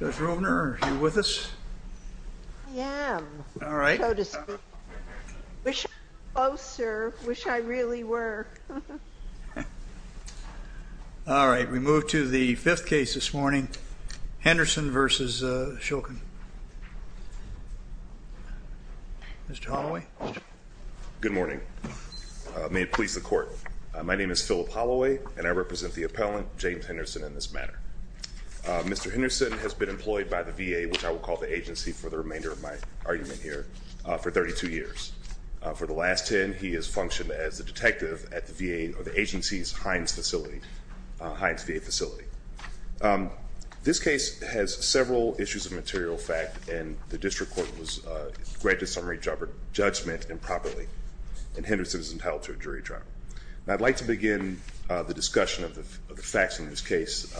Judge Rovner, are you with us? I am. All right. Wish I was closer. Wish I really were. All right. We move to the fifth case this morning. Henderson v. Shulkin. Mr. Holloway. Good morning. May it please the court. My name is Philip Holloway and I represent the District Court. Henderson has been employed by the VA, which I will call the agency for the remainder of my argument here, for 32 years. For the last 10, he has functioned as a detective at the VA or the agency's Hines facility, Hines VA facility. This case has several issues of material fact, and the District Court was granted summary judgment improperly, and Henderson is entitled to a jury trial. I'd like to begin the discussion of the facts in this case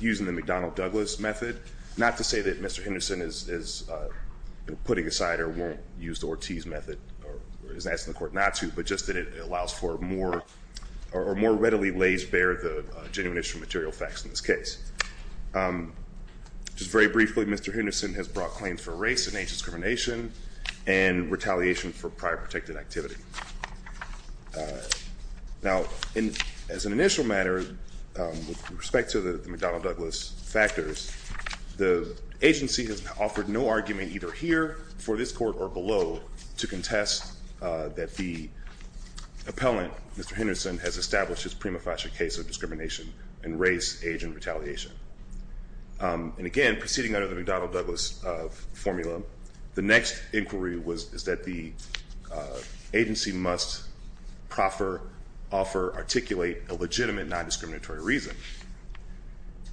using the McDonnell-Douglas method, not to say that Mr. Henderson is putting aside or won't use the Ortiz method, or is asking the court not to, but just that it allows for more, or more readily lays bare the genuine issue of material facts in this case. Just very briefly, Mr. Henderson has brought claims for race and age discrimination and retaliation for prior protected activity. Now, as an initial matter, with respect to the McDonnell-Douglas factors, the agency has offered no argument either here, for this court, or below, to contest that the appellant, Mr. Henderson, has established his prima facie case of discrimination in race, age, and retaliation. And again, proceeding under the McDonnell-Douglas formula, the next inquiry is that the agency must proffer, offer, articulate a legitimate non-discriminatory reason.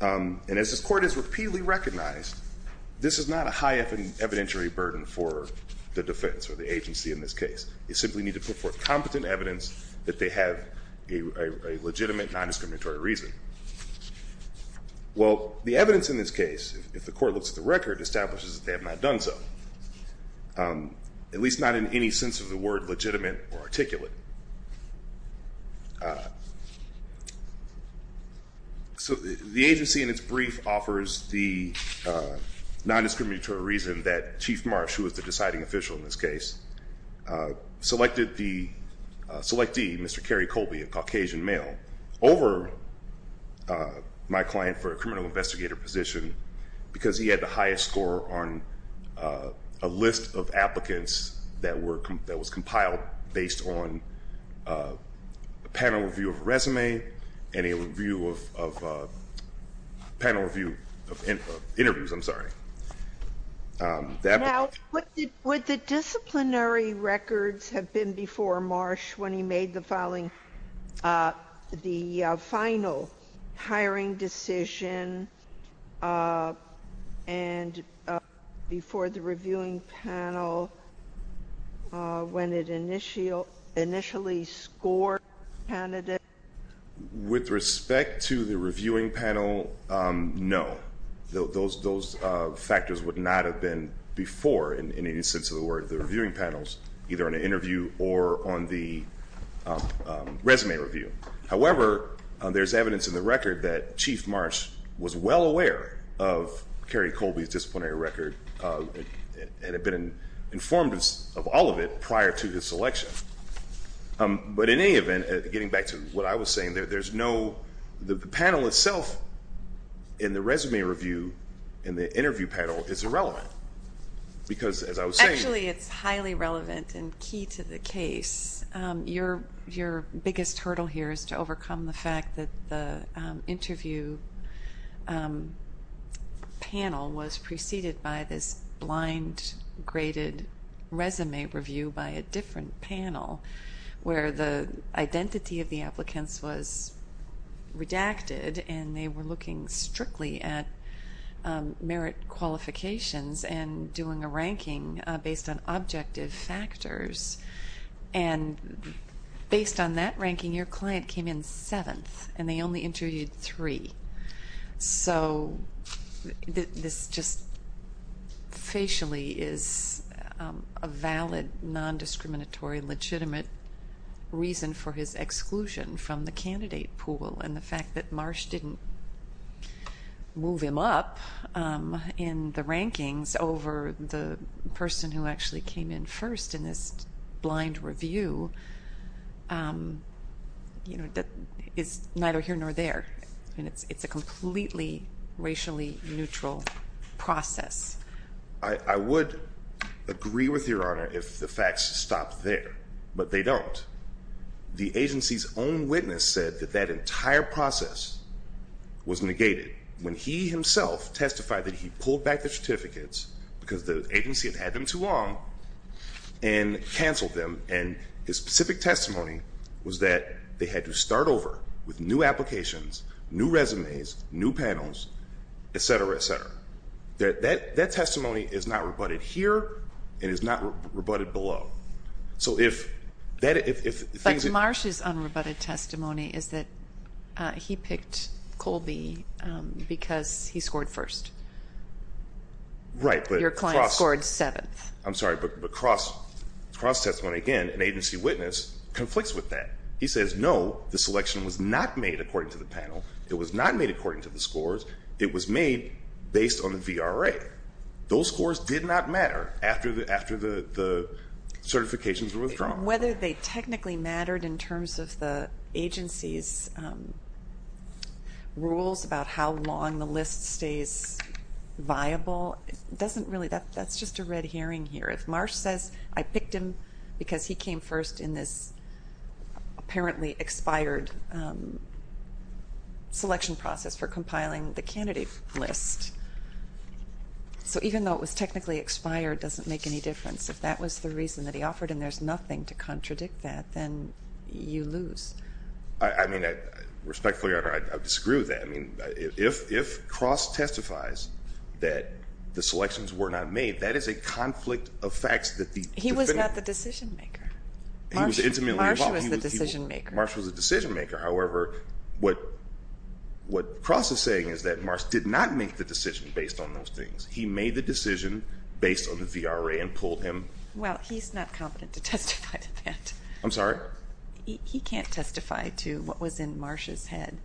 And as this court has repeatedly recognized, this is not a high evidentiary burden for the defense or the agency in this case. You simply need to put forth competent evidence that they have a legitimate non-discriminatory reason. Well, the evidence in this case, if the court looks at the record, establishes that they have not done so. At least not in any sense of the word legitimate or articulate. So the agency, in its brief, offers the non-discriminatory reason that Chief Marsh, who was the deciding official in this case, selected the, selectee, Mr. Kerry Colby, a Caucasian male, over my client for a criminal investigator position. Because he had the highest score on a list of applicants that was compiled based on a panel review of resume and a review of, panel review of interviews, I'm sorry. Now, would the disciplinary records have been before Marsh when he made the following, the final hiring decision, and before the reviewing panel, when it initially scored candidates? With respect to the reviewing panel, no. Those factors would not have been before, in any sense of the word, the reviewing panels, either on an interview or on the resume review. However, there's evidence in the record that Chief Marsh was well aware of Kerry Colby's disciplinary record. And had been informed of all of it prior to his selection. But in any event, getting back to what I was saying, there's no, the panel itself, in the resume review, in the interview panel, is irrelevant. Because, as I was saying. Actually, it's highly relevant and key to the case. Your biggest hurdle here is to overcome the fact that the interview panel was preceded by this blind-graded resume review by a different panel. Where the identity of the applicants was redacted and they were looking strictly at merit qualifications and doing a ranking based on objective factors. And based on that ranking, your client came in seventh. And they only interviewed three. So this just facially is a valid, non-discriminatory, legitimate reason for his exclusion from the candidate pool. And the fact that Marsh didn't move him up in the rankings over the person who actually came in first in this blind review. You know, that is neither here nor there. And it's a completely racially neutral process. I would agree with Your Honor if the facts stop there. But they don't. The agency's own witness said that that entire process was negated. When he himself testified that he pulled back the certificates because the agency had had them too long. And canceled them. And his specific testimony was that they had to start over with new applications, new resumes, new panels, etc., etc. That testimony is not rebutted here and is not rebutted below. But Marsh's unrebutted testimony is that he picked Colby because he scored first. Your client scored seventh. I'm sorry, but cross-testimony again, an agency witness conflicts with that. He says, no, the selection was not made according to the panel. It was not made according to the scores. It was made based on the VRA. Those scores did not matter after the certifications were withdrawn. Whether they technically mattered in terms of the agency's rules about how long the list stays viable, that's just a red herring here. If Marsh says, I picked him because he came first in this apparently expired selection process for compiling the candidate list. So even though it was technically expired, it doesn't make any difference. If that was the reason that he offered and there's nothing to contradict that, then you lose. I mean, respectfully, I disagree with that. If Cross testifies that the selections were not made, that is a conflict of facts. He was not the decision-maker. Marsh was the decision-maker. Marsh was the decision-maker. However, what Cross is saying is that Marsh did not make the decision based on those things. He made the decision based on the VRA and pulled him. Well, he's not competent to testify to that. I'm sorry? He can't testify to what was in Marsh's head.